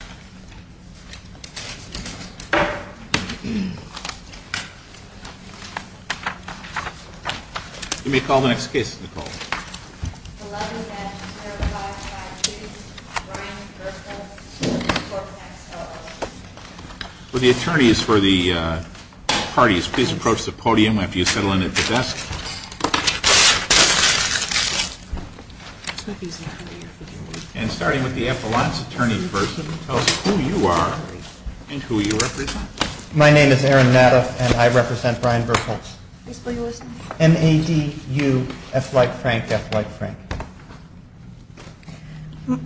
Attorney for the parties, please approach the podium after you settle in at the desk. And starting with the Appellant's attorney person, tell us who you are and who you represent. My name is Aaron Nadeff and I represent Brian Berkholz. M-A-D-U-F-L-I-K-E-F-L-I-K-E-F-L-I-K-E.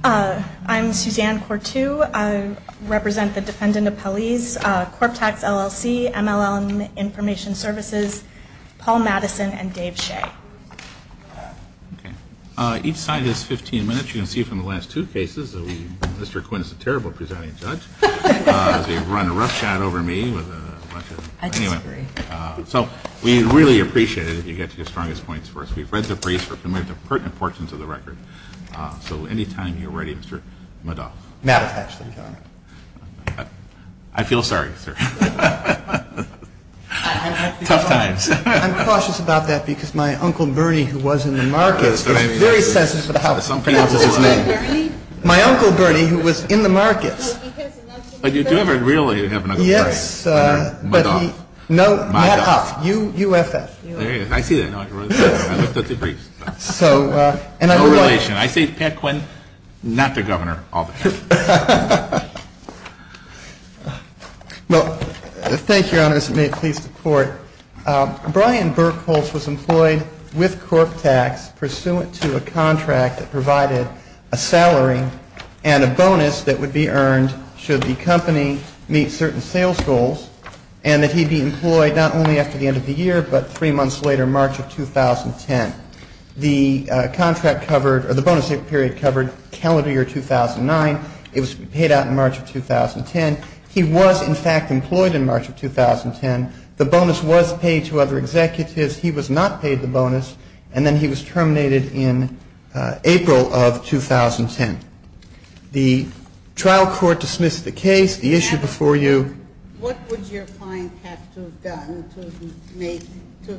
I'm Suzanne Quartu. I represent the Defendant Appellees, Corptax, LLC, M-L-L Information Services, Paul Madison, and Dave Shea. Each side is 15 minutes. You can see from the last two cases that Mr. Quinn is a terrible presiding judge. He's run a rough shot over me. I disagree. So we'd really appreciate it if you get to your strongest points first. We've read the briefs and we have the pertinent portions of the record. So any time you're ready, Mr. Madoff. Madoff, actually. I feel sorry, sir. Tough times. I'm cautious about that because my Uncle Bernie who was in the markets is very sensitive to how he pronounces his name. My Uncle Bernie who was in the markets. But you do have a real Uncle Bernie. Yes. Madoff. Madoff. Madoff. U-F-F. There he is. I see that. I looked at the briefs. No relation. I say Pat Quinn, not the Governor, all the time. Well, thank you, Your Honors. May it please the Court. Brian Berkholz was employed with corp tax pursuant to a contract that provided a salary and a bonus that would be earned should the company meet certain sales goals and that he be employed not only after the end of the year but three months later, March of 2010. The contract covered or the bonus period covered calendar year 2009. It was paid out in March of 2010. He was, in fact, employed in March of 2010. The bonus was paid to other executives. He was not paid the bonus. And then he was terminated in April of 2010. The trial court dismissed the case, the issue before you. What would your client have to have done to have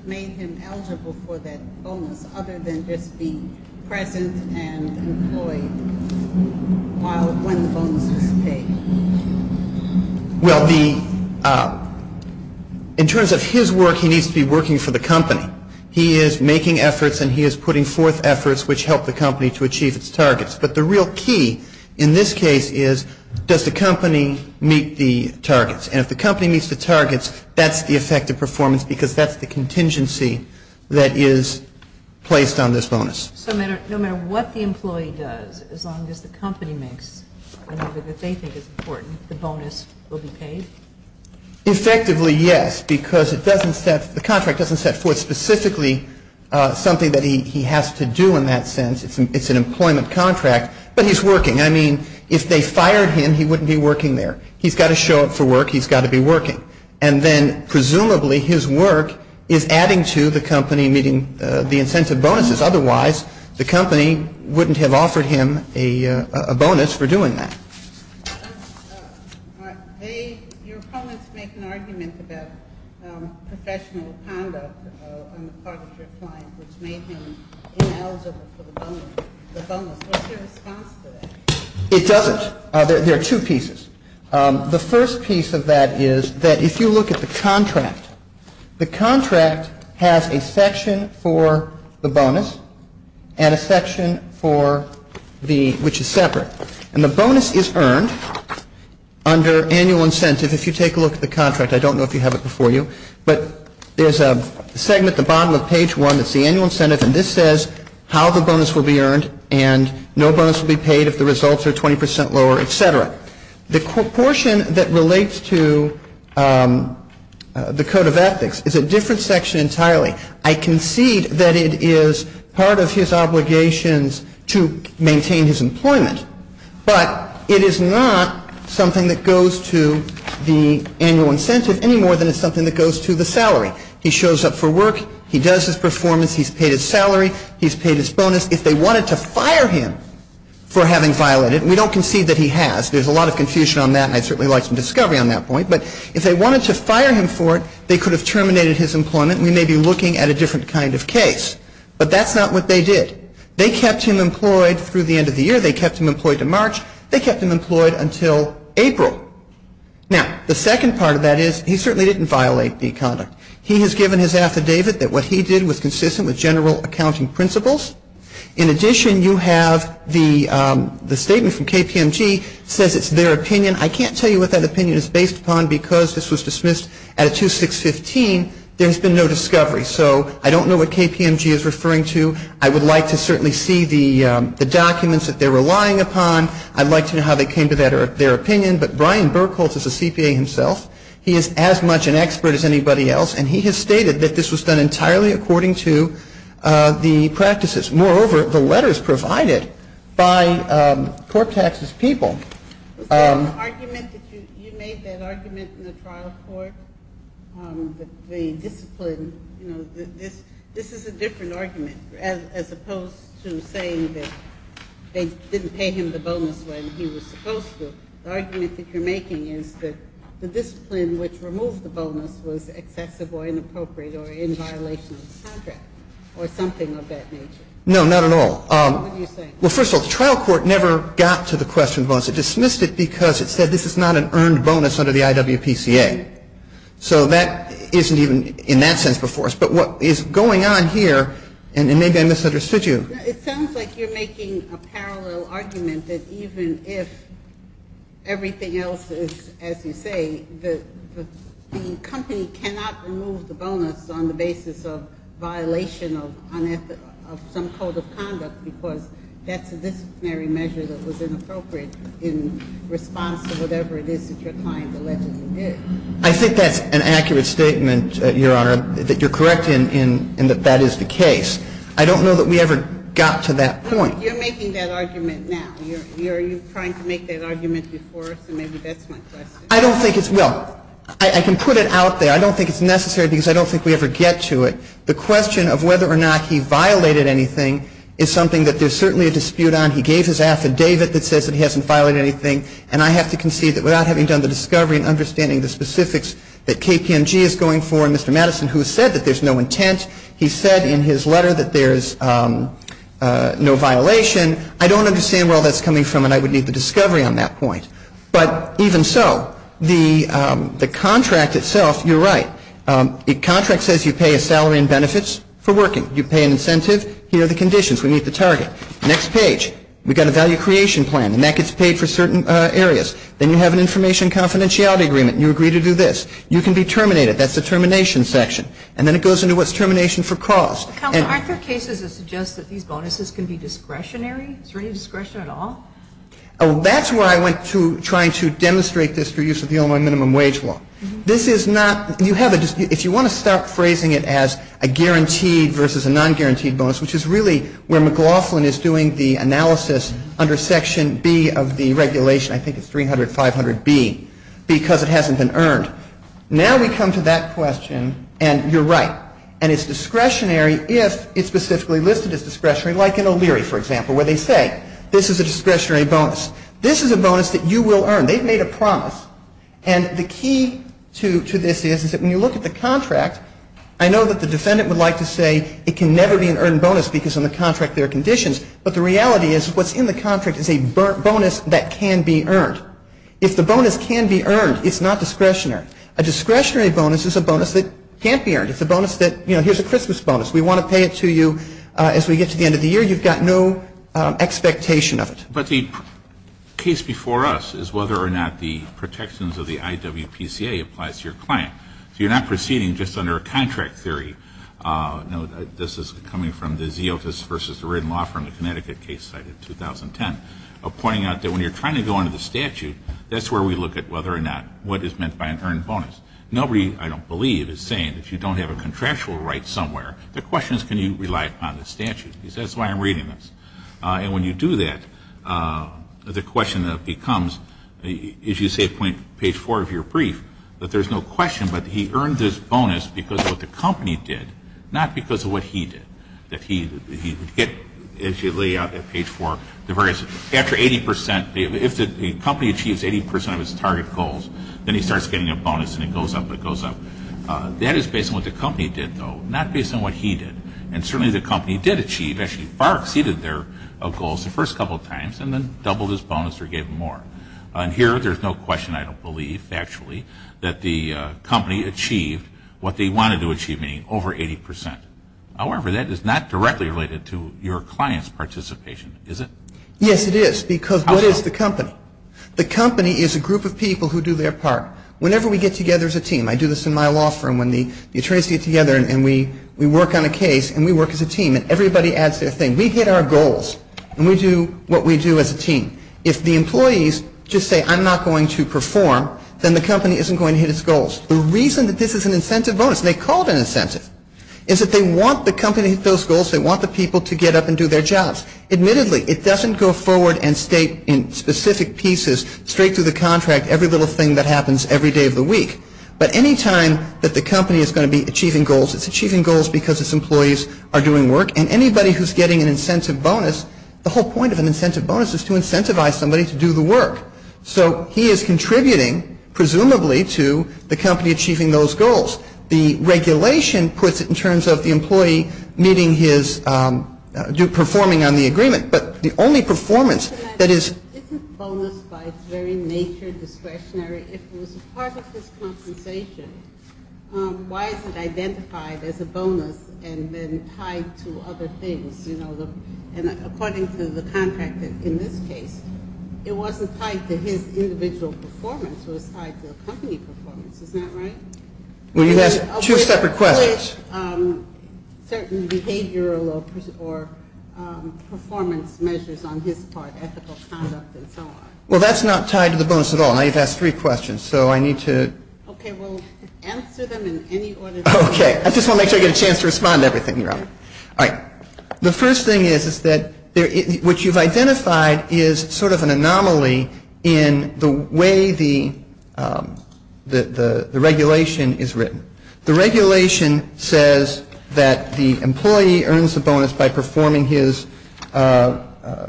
made him eligible for that bonus other than just be present and employed when the bonus was paid? Well, in terms of his work, he needs to be working for the company. He is making efforts and he is putting forth efforts which help the company to achieve its targets. But the real key in this case is does the company meet the targets? And if the company meets the targets, that's the effective performance because that's the contingency that is placed on this bonus. So no matter what the employee does, as long as the company makes whatever they think is important, the bonus will be paid? Effectively, yes, because the contract doesn't set forth specifically something that he has to do in that sense. It's an employment contract. But he's working. I mean, if they fired him, he wouldn't be working there. He's got to show up for work. He's got to be working. And then presumably his work is adding to the company meeting the incentive bonuses. Otherwise, the company wouldn't have offered him a bonus for doing that. Your opponents make an argument about professional conduct on the part of your client which made him ineligible for the bonus. What's your response to that? It doesn't. There are two pieces. The first piece of that is that if you look at the contract, the contract has a section for the bonus and a section which is separate. And the bonus is earned under annual incentive. If you take a look at the contract, I don't know if you have it before you, but there's a segment at the bottom of page one that's the annual incentive. And this says how the bonus will be earned and no bonus will be paid if the results are 20 percent lower, et cetera. The portion that relates to the code of ethics is a different section entirely. I concede that it is part of his obligations to maintain his employment. But it is not something that goes to the annual incentive any more than it's something that goes to the salary. He shows up for work. He does his performance. He's paid his salary. He's paid his bonus. If they wanted to fire him for having violated, and we don't concede that he has. There's a lot of confusion on that, and I'd certainly like some discovery on that point. But if they wanted to fire him for it, they could have terminated his employment, and we may be looking at a different kind of case. But that's not what they did. They kept him employed through the end of the year. They kept him employed to March. They kept him employed until April. Now, the second part of that is he certainly didn't violate the conduct. He has given his affidavit that what he did was consistent with general accounting principles. In addition, you have the statement from KPMG says it's their opinion. I can't tell you what that opinion is based upon because this was dismissed at a 2-6-15. There's been no discovery. So I don't know what KPMG is referring to. I would like to certainly see the documents that they're relying upon. I'd like to know how they came to their opinion. But Brian Burkholtz is a CPA himself. He is as much an expert as anybody else. And he has stated that this was done entirely according to the practices. Moreover, the letters provided by Corp Tax's people. Was there an argument that you made that argument in the trial court that the discipline, you know, this is a different argument as opposed to saying that they didn't pay him the bonus when he was supposed to. The argument that you're making is that the discipline which removed the bonus was excessive or inappropriate or in violation of the contract or something of that nature. No, not at all. What are you saying? Well, first of all, the trial court never got to the question of bonus. It dismissed it because it said this is not an earned bonus under the IWPCA. So that isn't even in that sense before us. But what is going on here, and maybe I misunderstood you. It sounds like you're making a parallel argument that even if everything else is as you say, the company cannot remove the bonus on the basis of violation of some code of conduct because that's a disciplinary measure that was inappropriate in response to whatever it is that your client allegedly did. I think that's an accurate statement, Your Honor, that you're correct in that that is the case. I don't know that we ever got to that point. You're making that argument now. Are you trying to make that argument before us? And maybe that's my question. I don't think it's – well, I can put it out there. I don't think it's necessary because I don't think we ever get to it. The question of whether or not he violated anything is something that there's certainly a dispute on. He gave his affidavit that says that he hasn't violated anything. And I have to concede that without having done the discovery and understanding the specifics that KPMG is going for and Mr. Madison, who said that there's no intent, he said in his letter that there's no violation. I don't understand where all that's coming from, and I would need the discovery on that point. But even so, the contract itself, you're right. The contract says you pay a salary and benefits for working. You pay an incentive. Here are the conditions. We meet the target. Next page. We've got a value creation plan, and that gets paid for certain areas. Then you have an information confidentiality agreement, and you agree to do this. You can be terminated. That's the termination section. And then it goes into what's termination for cause. Counselor, aren't there cases that suggest that these bonuses can be discretionary? Is there any discretion at all? That's where I went to trying to demonstrate this through use of the Illinois minimum wage law. This is not you have a if you want to start phrasing it as a guaranteed versus a non-guaranteed bonus, which is really where McLaughlin is doing the analysis under section B of the regulation. I think it's 300, 500B, because it hasn't been earned. Now we come to that question, and you're right. And it's discretionary if it's specifically listed as discretionary, like in O'Leary, for example, where they say this is a discretionary bonus. This is a bonus that you will earn. They've made a promise, and the key to this is that when you look at the contract, I know that the defendant would like to say it can never be an earned bonus because on the contract there are conditions, but the reality is what's in the contract is a bonus that can be earned. If the bonus can be earned, it's not discretionary. A discretionary bonus is a bonus that can't be earned. It's a bonus that, you know, here's a Christmas bonus. We want to pay it to you as we get to the end of the year. You've got no expectation of it. But the case before us is whether or not the protections of the IWPCA applies to your client. So you're not proceeding just under a contract theory. This is coming from the Zeotis versus the Written Law from the Connecticut case cited in 2010, pointing out that when you're trying to go under the statute, that's where we look at whether or not what is meant by an earned bonus. Nobody, I don't believe, is saying that you don't have a contractual right somewhere. The question is can you rely upon the statute. That's why I'm reading this. And when you do that, the question that becomes, as you say at page four of your brief, that there's no question, but he earned this bonus because of what the company did, not because of what he did, that he would get, as you lay out at page four, after 80 percent, if the company achieves 80 percent of its target goals, then he starts getting a bonus and it goes up and it goes up. That is based on what the company did, though, not based on what he did. And certainly the company did achieve, actually far exceeded their goals the first couple of times and then doubled his bonus or gave him more. And here there's no question, I don't believe, factually, that the company achieved what they wanted to achieve, meaning over 80 percent. However, that is not directly related to your client's participation, is it? Yes, it is, because what is the company? The company is a group of people who do their part. Whenever we get together as a team, I do this in my law firm when the attorneys get together and we work on a case and we work as a team and everybody adds their thing. We hit our goals and we do what we do as a team. If the employees just say I'm not going to perform, then the company isn't going to hit its goals. It's that they want the company to hit those goals. They want the people to get up and do their jobs. Admittedly, it doesn't go forward and state in specific pieces straight through the contract every little thing that happens every day of the week. But any time that the company is going to be achieving goals, it's achieving goals because its employees are doing work. And anybody who's getting an incentive bonus, the whole point of an incentive bonus is to incentivize somebody to do the work. So he is contributing, presumably, to the company achieving those goals. The regulation puts it in terms of the employee meeting his, performing on the agreement. But the only performance that is- Isn't bonus by its very nature discretionary? If it was a part of his compensation, why is it identified as a bonus and then tied to other things? And according to the contract in this case, it wasn't tied to his individual performance. It was tied to the company performance. Is that right? Well, you've asked two separate questions. With certain behavioral or performance measures on his part, ethical conduct and so on. Well, that's not tied to the bonus at all. Now you've asked three questions, so I need to- Okay, we'll answer them in any order that we can. Okay. I just want to make sure I get a chance to respond to everything you're asking. All right. The first thing is that what you've identified is sort of an anomaly in the way the regulation is written. The regulation says that the employee earns a bonus by performing his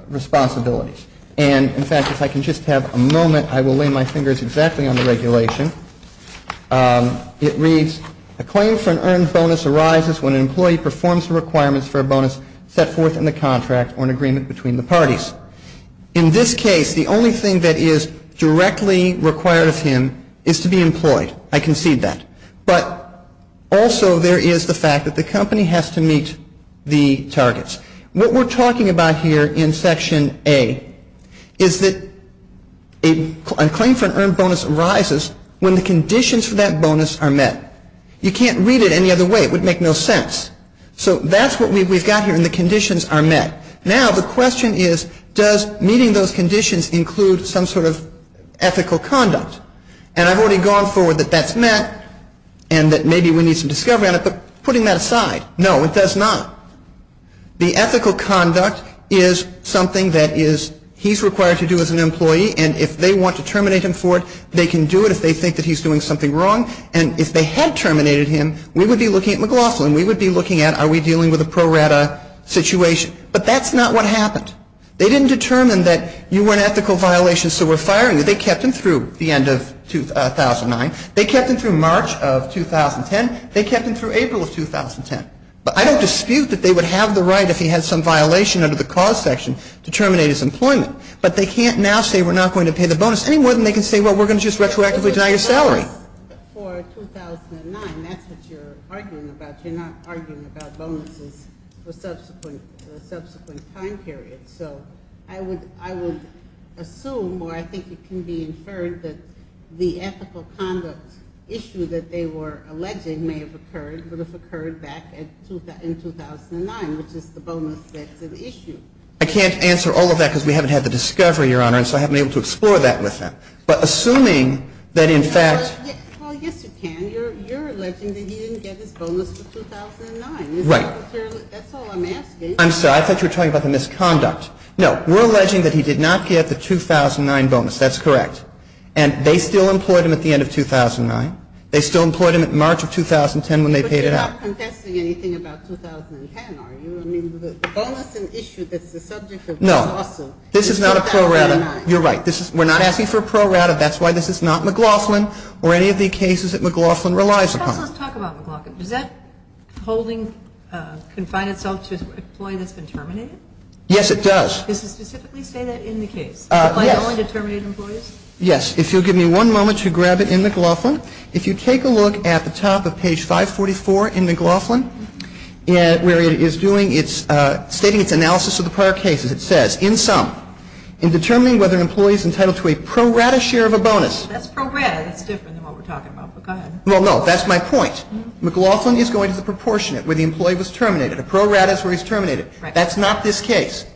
responsibilities. And in fact, if I can just have a moment, I will lay my fingers exactly on the regulation. It reads, a claim for an earned bonus arises when an employee performs the requirements for a bonus set forth in the contract or an agreement between the parties. In this case, the only thing that is directly required of him is to be employed. I concede that. But also there is the fact that the company has to meet the targets. What we're talking about here in Section A is that a claim for an earned bonus arises when the conditions for that bonus are met. You can't read it any other way. It would make no sense. So that's what we've got here in the conditions are met. Now the question is, does meeting those conditions include some sort of ethical conduct? And I've already gone forward that that's met and that maybe we need some discovery on it. But putting that aside, no, it does not. The ethical conduct is something that he's required to do as an employee. And if they want to terminate him for it, they can do it if they think that he's doing something wrong. And if they had terminated him, we would be looking at McLaughlin. We would be looking at, are we dealing with a pro rata situation? But that's not what happened. They didn't determine that you were an ethical violation, so we're firing you. They kept him through the end of 2009. They kept him through March of 2010. They kept him through April of 2010. But I don't dispute that they would have the right if he had some violation under the cause section to terminate his employment. But they can't now say we're not going to pay the bonus any more than they can say, well, we're going to just retroactively deny your salary. For 2009, that's what you're arguing about. You're not arguing about bonuses for subsequent time periods. So I would assume or I think it can be inferred that the ethical conduct issue that they were alleging may have occurred, would have occurred back in 2009, which is the bonus that's at issue. I can't answer all of that because we haven't had the discovery, Your Honor, and so I haven't been able to explore that with them. But assuming that in fact. Well, yes, you can. You're alleging that he didn't get his bonus for 2009. Right. That's all I'm asking. I'm sorry. I thought you were talking about the misconduct. No. We're alleging that he did not get the 2009 bonus. That's correct. And they still employed him at the end of 2009. They still employed him at March of 2010 when they paid it out. But you're not contesting anything about 2010, are you? I mean, the bonus and issue that's the subject of this lawsuit is 2009. No. This is not a pro rata. You're right. We're not asking for a pro rata. That's why this is not McLaughlin or any of the cases that McLaughlin relies upon. Tell us, let's talk about McLaughlin. Does that holding confine itself to an employee that's been terminated? Yes, it does. Does it specifically say that in the case? Yes. Applying only to terminated employees? Yes. If you'll give me one moment to grab it in McLaughlin, if you take a look at the top of page 544 in McLaughlin, where it is stating its analysis of the prior cases, it says, in sum, in determining whether an employee is entitled to a pro rata share of a bonus. That's pro rata. That's different than what we're talking about, but go ahead. Well, no, that's my point. McLaughlin is going to the proportionate where the employee was terminated. A pro rata is where he's terminated. That's not this case.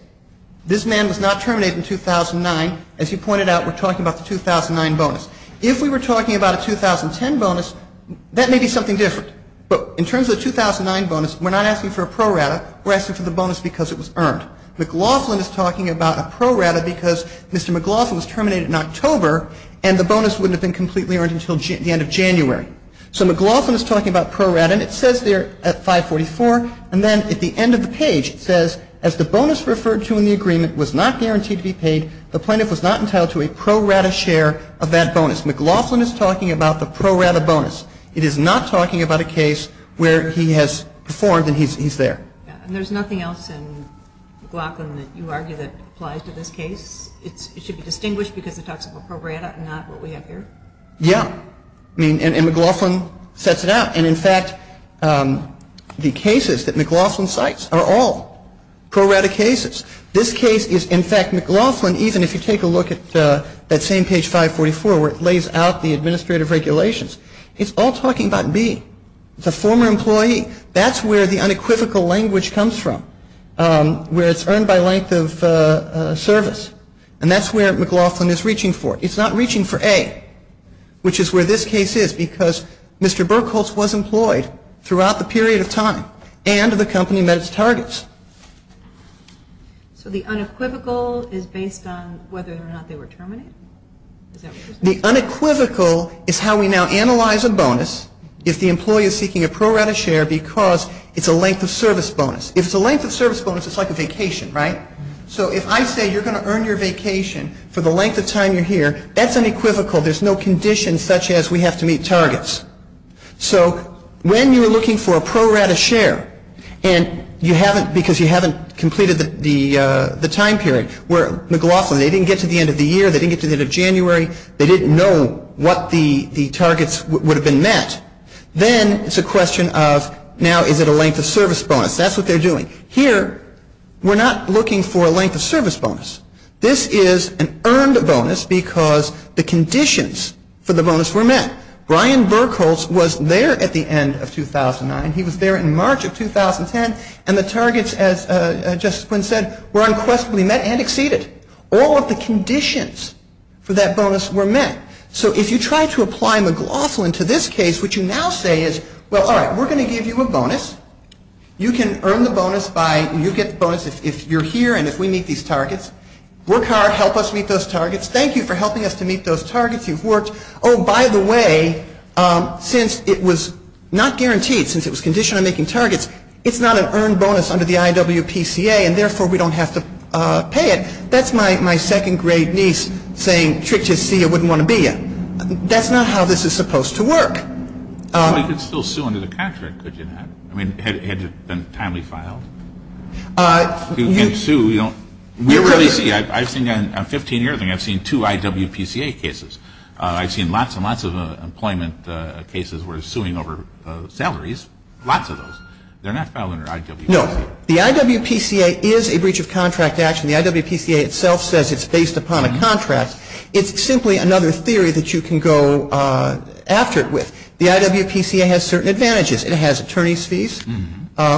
This man was not terminated in 2009. As you pointed out, we're talking about the 2009 bonus. If we were talking about a 2010 bonus, that may be something different. But in terms of the 2009 bonus, we're not asking for a pro rata. We're asking for the bonus because it was earned. McLaughlin is talking about a pro rata because Mr. McLaughlin was terminated in October, and the bonus wouldn't have been completely earned until the end of January. So McLaughlin is talking about pro rata, and it says there at 544, and then at the end of the page it says, as the bonus referred to in the agreement was not guaranteed to be paid, the plaintiff was not entitled to a pro rata share of that bonus. McLaughlin is talking about the pro rata bonus. It is not talking about a case where he has performed and he's there. And there's nothing else in McLaughlin that you argue that applies to this case? It should be distinguished because it talks about pro rata and not what we have here? Yeah. I mean, and McLaughlin sets it out. And, in fact, the cases that McLaughlin cites are all pro rata cases. This case is, in fact, McLaughlin, even if you take a look at that same page 544 where it lays out the administrative regulations, it's all talking about B. It's a former employee. That's where the unequivocal language comes from, where it's earned by length of service. And that's where McLaughlin is reaching for. It's not reaching for A, which is where this case is, because Mr. Burkholz was employed throughout the period of time and the company met its targets. So the unequivocal is based on whether or not they were terminated? The unequivocal is how we now analyze a bonus if the employee is seeking a pro rata share because it's a length of service bonus. If it's a length of service bonus, it's like a vacation, right? So if I say you're going to earn your vacation for the length of time you're here, that's unequivocal. There's no condition such as we have to meet targets. So when you're looking for a pro rata share and you haven't, because you haven't completed the time period, where McLaughlin, they didn't get to the end of the year, they didn't get to the end of January, they didn't know what the targets would have been met, then it's a question of now is it a length of service bonus? That's what they're doing. Here, we're not looking for a length of service bonus. This is an earned bonus because the conditions for the bonus were met. Brian Berkholz was there at the end of 2009. He was there in March of 2010, and the targets, as Justice Quinn said, were unquestionably met and exceeded. All of the conditions for that bonus were met. So if you try to apply McLaughlin to this case, what you now say is, well, all right, we're going to give you a bonus. You can earn the bonus by, you get the bonus if you're here and if we meet these targets. Work hard. Help us meet those targets. Thank you for helping us to meet those targets. You've worked. Oh, by the way, since it was not guaranteed, since it was conditioned on making targets, it's not an earned bonus under the IWPCA, and therefore, we don't have to pay it. That's my second grade niece saying, trick just so you wouldn't want to be you. That's not how this is supposed to work. Well, you could still sue under the contract, could you not? I mean, had it been timely filed? You can sue. We don't really see it. I've seen on 15-year things, I've seen two IWPCA cases. I've seen lots and lots of employment cases where they're suing over salaries, lots of those. They're not filed under IWPCA. No. The IWPCA is a breach of contract action. The IWPCA itself says it's based upon a contract. It's simply another theory that you can go after it with. The IWPCA has certain advantages. It has attorney's fees,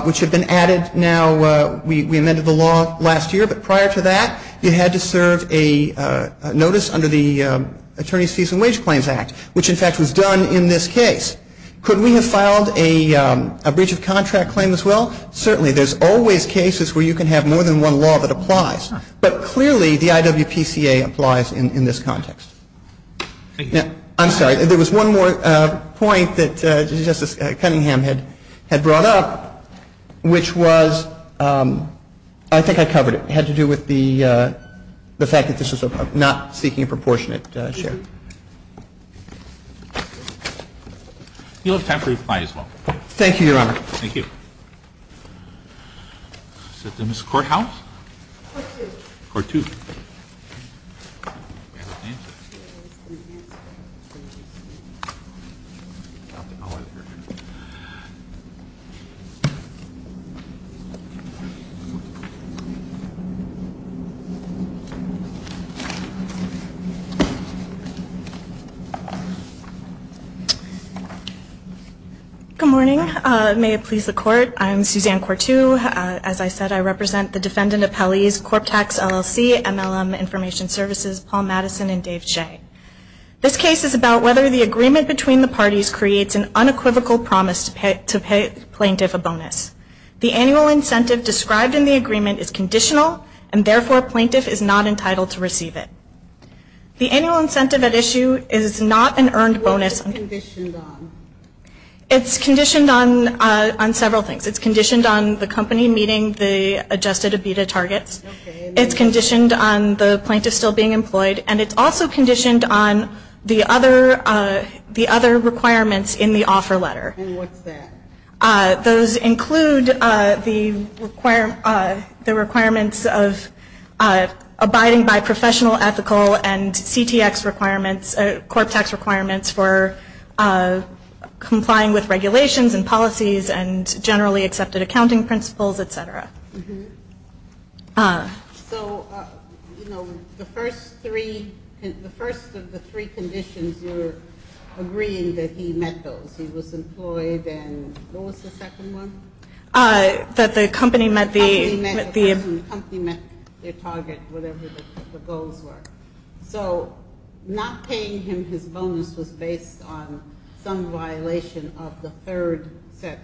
which have been added now. We amended the law last year. But prior to that, you had to serve a notice under the Attorney's Fees and Wage Claims Act, which, in fact, was done in this case. Could we have filed a breach of contract claim as well? Certainly. There's always cases where you can have more than one law that applies. But clearly, the IWPCA applies in this context. Thank you. I'm sorry. There was one more point that Justice Cunningham had brought up, which was, I think I covered it. It had to do with the fact that this was not seeking a proportionate share. If you'll have time to reply as well. Thank you, Your Honor. Thank you. Is that the Ms. Courthouse? Court two. Good morning. May it please the Court. I'm Suzanne Courthouse. As I said, I represent the defendant appellees, Corp Tax, LLC, MLM Information Services, Paul Madison, and Dave Shea. This case is about whether the agreement between the parties creates an unequivocal promise to pay plaintiff a bonus. The annual incentive described in the agreement is conditional, and therefore, plaintiff is not entitled to receive it. The annual incentive at issue is not an earned bonus. What is it conditioned on? It's conditioned on several things. It's conditioned on the company meeting the adjusted EBITA targets. It's conditioned on the plaintiff still being employed. And it's also conditioned on the other requirements in the offer letter. And what's that? Those include the requirements of abiding by professional ethical and CTX requirements, Corp Tax requirements for complying with regulations and policies and generally accepted accounting principles, et cetera. So, you know, the first three, the first of the three conditions, you're agreeing that he met those. He was employed and what was the second one? That the company met the EBITA. The company met their target, whatever the goals were. So not paying him his bonus was based on some violation of the third set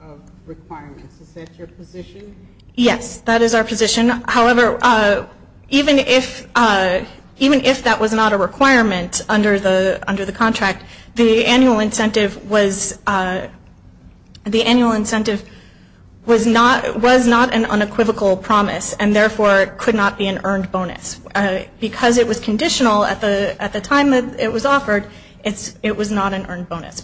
of requirements. Is that your position? Yes, that is our position. However, even if that was not a requirement under the contract, the annual incentive was not an unequivocal promise and therefore could not be an earned bonus. Because it was conditional at the time it was offered, it was not an earned bonus.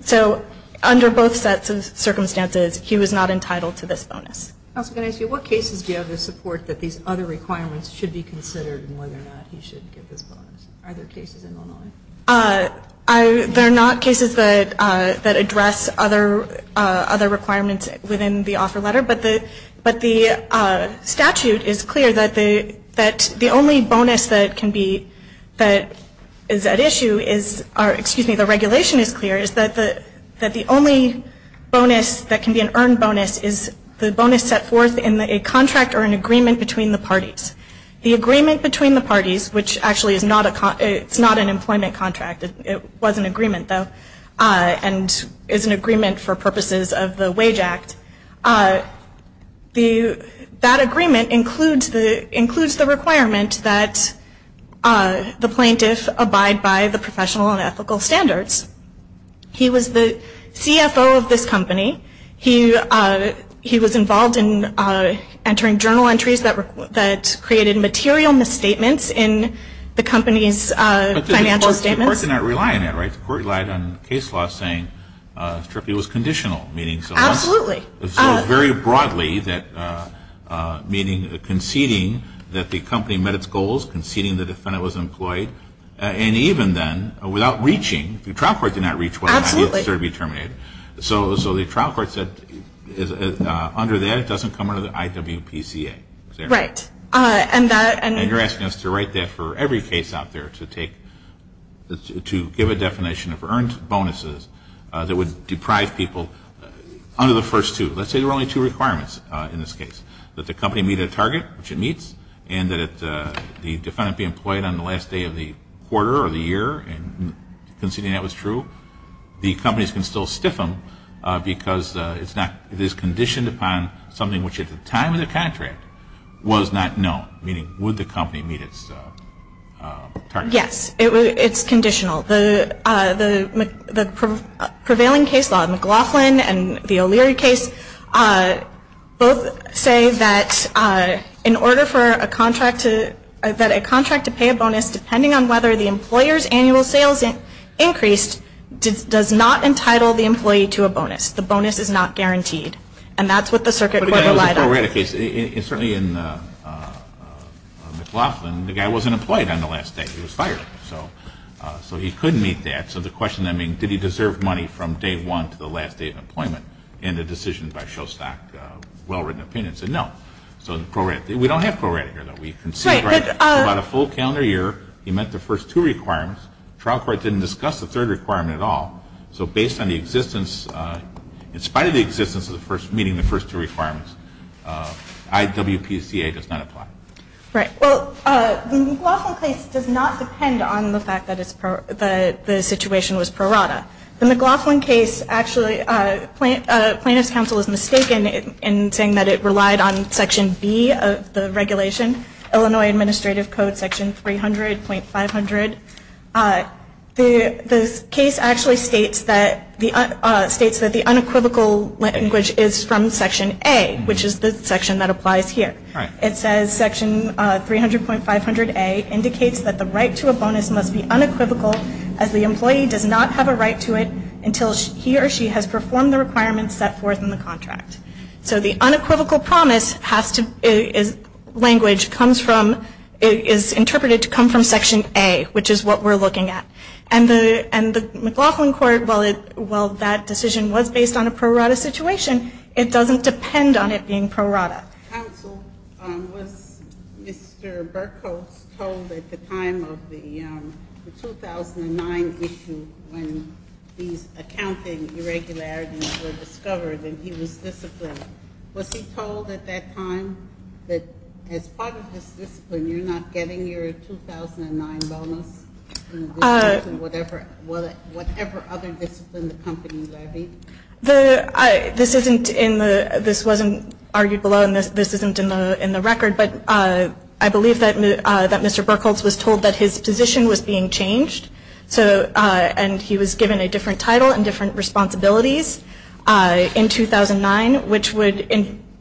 So under both sets of circumstances, he was not entitled to this bonus. What cases do you have to support that these other requirements should be considered in whether or not he should get this bonus? Are there cases in Illinois? There are not cases that address other requirements within the offer letter, but the statute is clear that the only bonus that can be that is at issue is, or excuse me, the regulation is clear, is that the only bonus that can be an earned bonus is the bonus set forth in a contract or an agreement between the parties. The agreement between the parties, which actually is not an employment contract, it was an agreement though and is an agreement for purposes of the Wage Act, that agreement includes the requirement that the plaintiff abide by the professional and ethical standards. He was the CFO of this company. He was involved in entering journal entries that created material misstatements in the company's financial statements. The court did not rely on that, right? The court relied on case law saying it was conditional. Absolutely. Very broadly, meaning conceding that the company met its goals, conceding the defendant was employed, and even then, without reaching, the trial court did not reach whether or not he was to be terminated. So the trial court said under that it doesn't come under the IWPCA. Right. And you're asking us to write that for every case out there to give a definition of earned bonuses that would deprive people under the first two. Let's say there were only two requirements in this case, that the company meet a target, which it meets, and that the defendant be employed on the last day of the quarter or the year, and conceding that was true. The companies can still stiff him because it is conditioned upon something which at the time of the contract was not known, meaning would the company meet its target. Yes. It's conditional. The prevailing case law, McLaughlin and the O'Leary case, both say that in order for a contract to pay a bonus, depending on whether the employer's annual sales increased, does not entitle the employee to a bonus. The bonus is not guaranteed. And that's what the circuit court relied on. Certainly in McLaughlin, the guy wasn't employed on the last day. He was fired. So he couldn't meet that. So the question, I mean, did he deserve money from day one to the last day of employment in the decision by Shostak, well-written opinion, said no. So we don't have pro rata here, though. We concede about a full calendar year. He met the first two requirements. Trial court didn't discuss the third requirement at all. So based on the existence, in spite of the existence of meeting the first two requirements, IWPCA does not apply. Right. Well, the McLaughlin case does not depend on the fact that the situation was pro rata. The McLaughlin case actually, plaintiff's counsel is mistaken in saying that it relied on Section B of the regulation, Illinois Administrative Code, Section 300.500. The case actually states that the unequivocal language is from Section A, which is the section that applies here. Right. It says Section 300.500A indicates that the right to a bonus must be unequivocal as the employee does not have a right to it until he or she has performed the requirements set forth in the contract. So the unequivocal language is interpreted to come from Section A, which is what we're looking at. And the McLaughlin court, while that decision was based on a pro rata situation, it doesn't depend on it being pro rata. Counsel, was Mr. Berkowitz told at the time of the 2009 issue when these accounting irregularities were discovered and he was disciplined, was he told at that time that as part of his discipline you're not getting your 2009 bonus? Whatever other discipline the company levied? This wasn't argued below and this isn't in the record, but I believe that Mr. Berkowitz was told that his position was being changed. And he was given a different title and different responsibilities in 2009, which would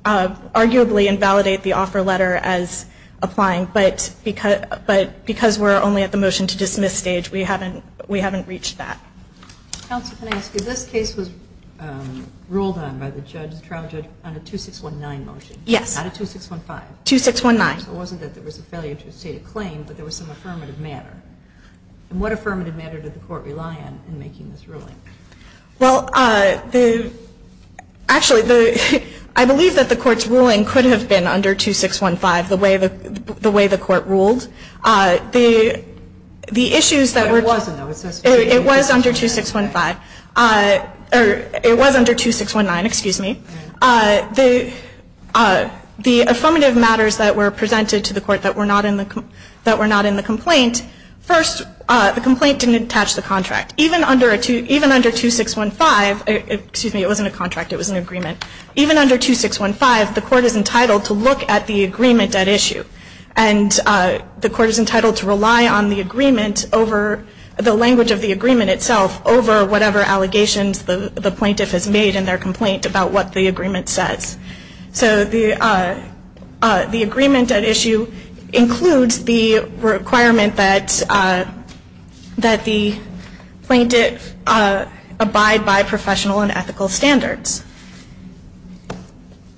arguably invalidate the offer letter as applying, but because we're only at the motion to dismiss stage, we haven't reached that. Counsel, can I ask you, this case was ruled on by the trial judge on a 2619 motion, not a 2615. Yes, 2619. So it wasn't that there was a failure to state a claim, but there was some affirmative manner. And what affirmative manner did the court rely on in making this ruling? Well, actually, I believe that the court's ruling could have been under 2615 the way the court ruled. It wasn't, though. It was under 2615. It was under 2619, excuse me. The affirmative matters that were presented to the court that were not in the complaint, first, the complaint didn't attach the contract. Even under 2615, excuse me, it wasn't a contract, it was an agreement. Even under 2615, the court is entitled to look at the agreement at issue. And the court is entitled to rely on the agreement over the language of the agreement itself over whatever allegations the plaintiff has made in their complaint about what the agreement says. So the agreement at issue includes the requirement that the plaintiff abide by professional and ethical standards.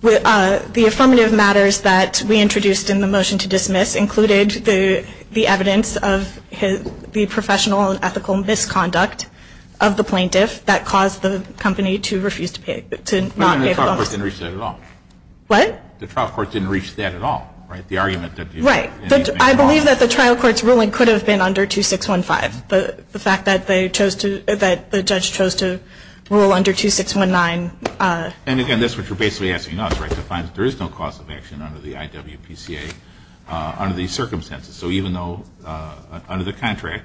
The affirmative matters that we introduced in the motion to dismiss included the evidence of the professional and ethical misconduct of the plaintiff that caused the company to refuse to pay, to not pay the loan. The trial court didn't reach that at all. What? The trial court didn't reach that at all, right? The argument that the plaintiff made at all. Right. I believe that the trial court's ruling could have been under 2615. The fact that they chose to, that the judge chose to rule under 2619. And again, that's what you're basically asking us, right, to find that there is no cause of action under the IWPCA under these circumstances. So even though under the contract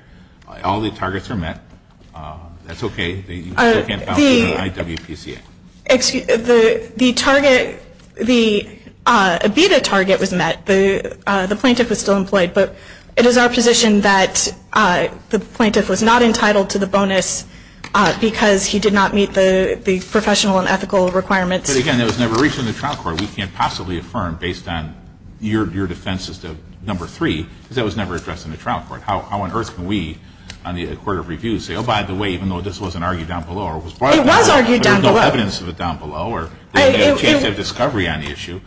all the targets are met, that's okay, you still can't balance the IWPCA. The target, the EBITA target was met. The plaintiff was still employed. But it is our position that the plaintiff was not entitled to the bonus because he did not meet the professional and ethical requirements. But again, it was never reached in the trial court. So we can't possibly affirm based on your defense as to number three, because that was never addressed in the trial court. How on earth can we on the Court of Review say, oh, by the way, even though this wasn't argued down below or it was brought up in court. It was argued down below. But there's no evidence of it down below or they didn't have a chance to have discovery on the issue.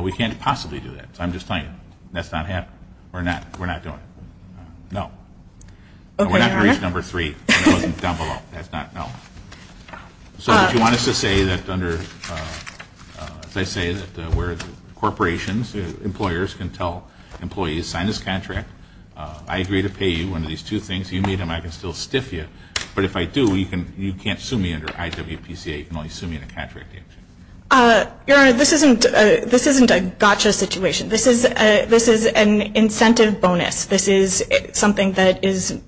We can't possibly do that. So I'm just telling you, that's not happening. We're not. We're not doing it. No. Okay, Your Honor. And we're not going to reach number three if it wasn't down below. That's not, no. So do you want us to say that under, as I say, that we're corporations, employers can tell employees sign this contract. I agree to pay you under these two things. You meet them. I can still stiff you. But if I do, you can't sue me under IWPCA. You can only sue me in a contract. Your Honor, this isn't a gotcha situation. This is an incentive bonus. This is something that is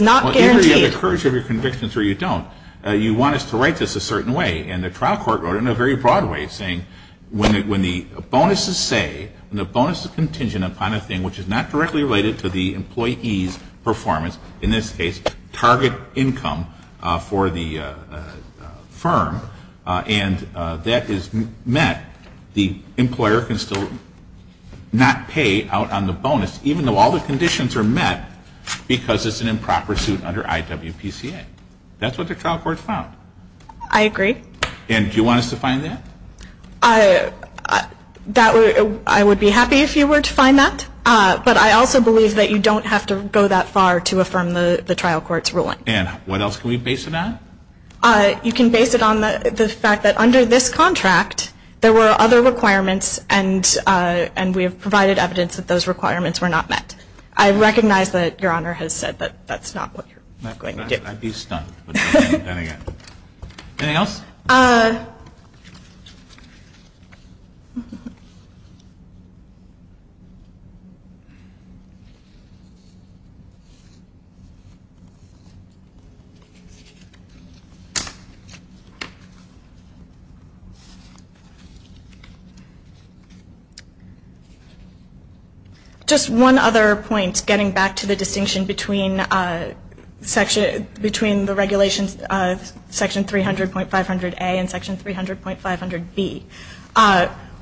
not guaranteed. Whether you have the courage of your convictions or you don't, you want us to write this a certain way. And the trial court wrote it in a very broad way, saying when the bonuses say, when the bonus is contingent upon a thing which is not directly related to the employee's performance, in this case target income for the firm, and that is met, the employer can still not pay out on the bonus, even though all the conditions are met, because it's an improper suit under IWPCA. That's what the trial court found. I agree. And do you want us to find that? I would be happy if you were to find that. But I also believe that you don't have to go that far to affirm the trial court's ruling. And what else can we base it on? You can base it on the fact that under this contract there were other requirements and we have provided evidence that those requirements were not met. I recognize that Your Honor has said that that's not what you're going to do. I'd be stunned. Just one other point, getting back to the distinction between the regulations, section 300.500A and section 300.500B.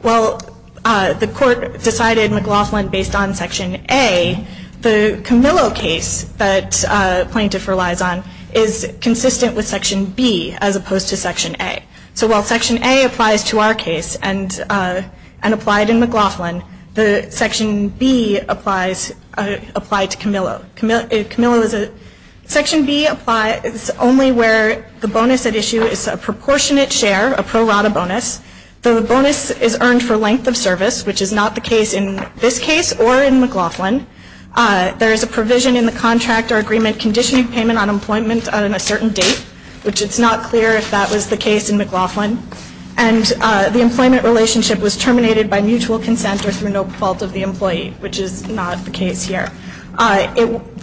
While the court decided McLaughlin based on section A, the Camillo case that plaintiff relies on is consistent with section B as opposed to section A. So while section A applies to our case and applied in McLaughlin, the section B applies to Camillo. Section B is only where the bonus at issue is a proportionate share, a pro rata bonus. The bonus is earned for length of service, which is not the case in this case or in McLaughlin. There is a provision in the contract or agreement conditioning payment on employment on a certain date, which it's not clear if that was the case in McLaughlin. And the employment relationship was terminated by mutual consent or through no fault of the employee, which is not the case here.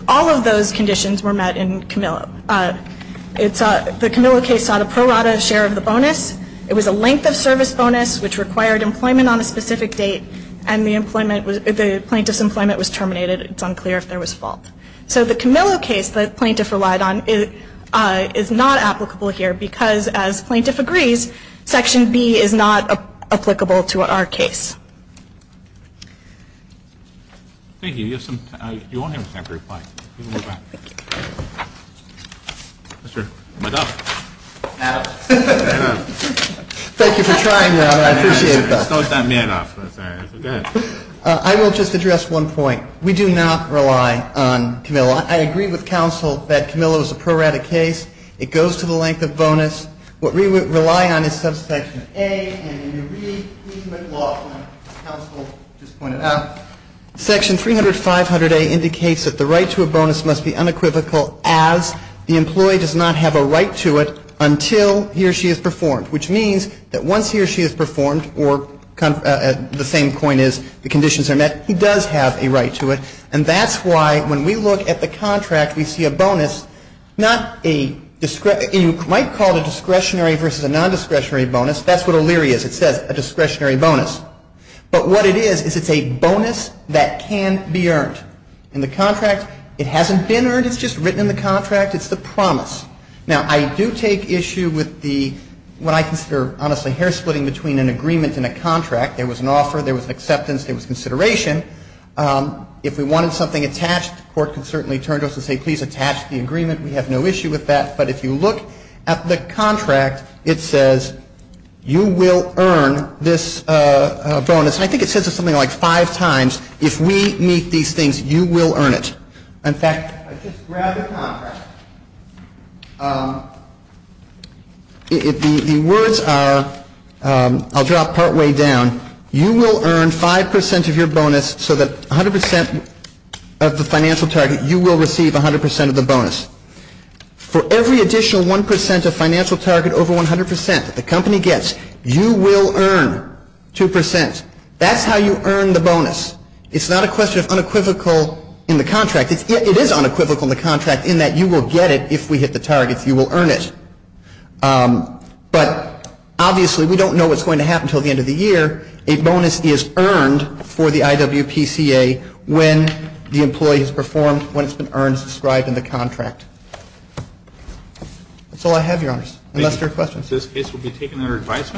All of those conditions were met in Camillo. The Camillo case sought a pro rata share of the bonus. It was a length of service bonus, which required employment on a specific date, and the plaintiff's employment was terminated. It's unclear if there was fault. So the Camillo case the plaintiff relied on is not applicable here because as plaintiff agrees, section B is not applicable to our case. Thank you. You have some time. You won't have time to reply. You can go back. Thank you. Mr. Madoff. Madoff. Madoff. Thank you for trying, Robert. I appreciate that. It's not that Madoff. I'm sorry. Go ahead. I will just address one point. We do not rely on Camillo. I agree with counsel that Camillo is a pro rata case. It goes to the length of bonus. What we rely on is subsection A, and in the Reed-McLaughlin counsel just pointed out, section 300-500A indicates that the right to a bonus must be unequivocal as the employee does not have a right to it until he or she is performed, which means that once he or she is performed, or the same coin is, the conditions are met, he does have a right to it. And that's why when we look at the contract, we see a bonus, not a, you might call it a discretionary versus a non-discretionary bonus. That's what O'Leary is. It says a discretionary bonus. But what it is is it's a bonus that can be earned. In the contract, it hasn't been earned. It's just written in the contract. It's the promise. Now, I do take issue with the, what I consider, honestly, hair splitting between an agreement and a contract. There was an offer. There was an acceptance. There was consideration. If we wanted something attached, the court can certainly turn to us and say, please, attach the agreement. We have no issue with that. But if you look at the contract, it says you will earn this bonus. And I think it says it something like five times. If we meet these things, you will earn it. In fact, I just grabbed the contract. The words are, I'll drop partway down, you will earn 5% of your bonus so that 100% of the financial target, you will receive 100% of the bonus. For every additional 1% of financial target over 100% that the company gets, you will earn 2%. That's how you earn the bonus. It's not a question of unequivocal in the contract. It is unequivocal in the contract in that you will get it if we hit the targets. You will earn it. But obviously, we don't know what's going to happen until the end of the year. A bonus is earned for the IWPCA when the employee has performed, when it's been earned, as described in the contract. That's all I have, Your Honors, unless there are questions. This case will be taken under advisement.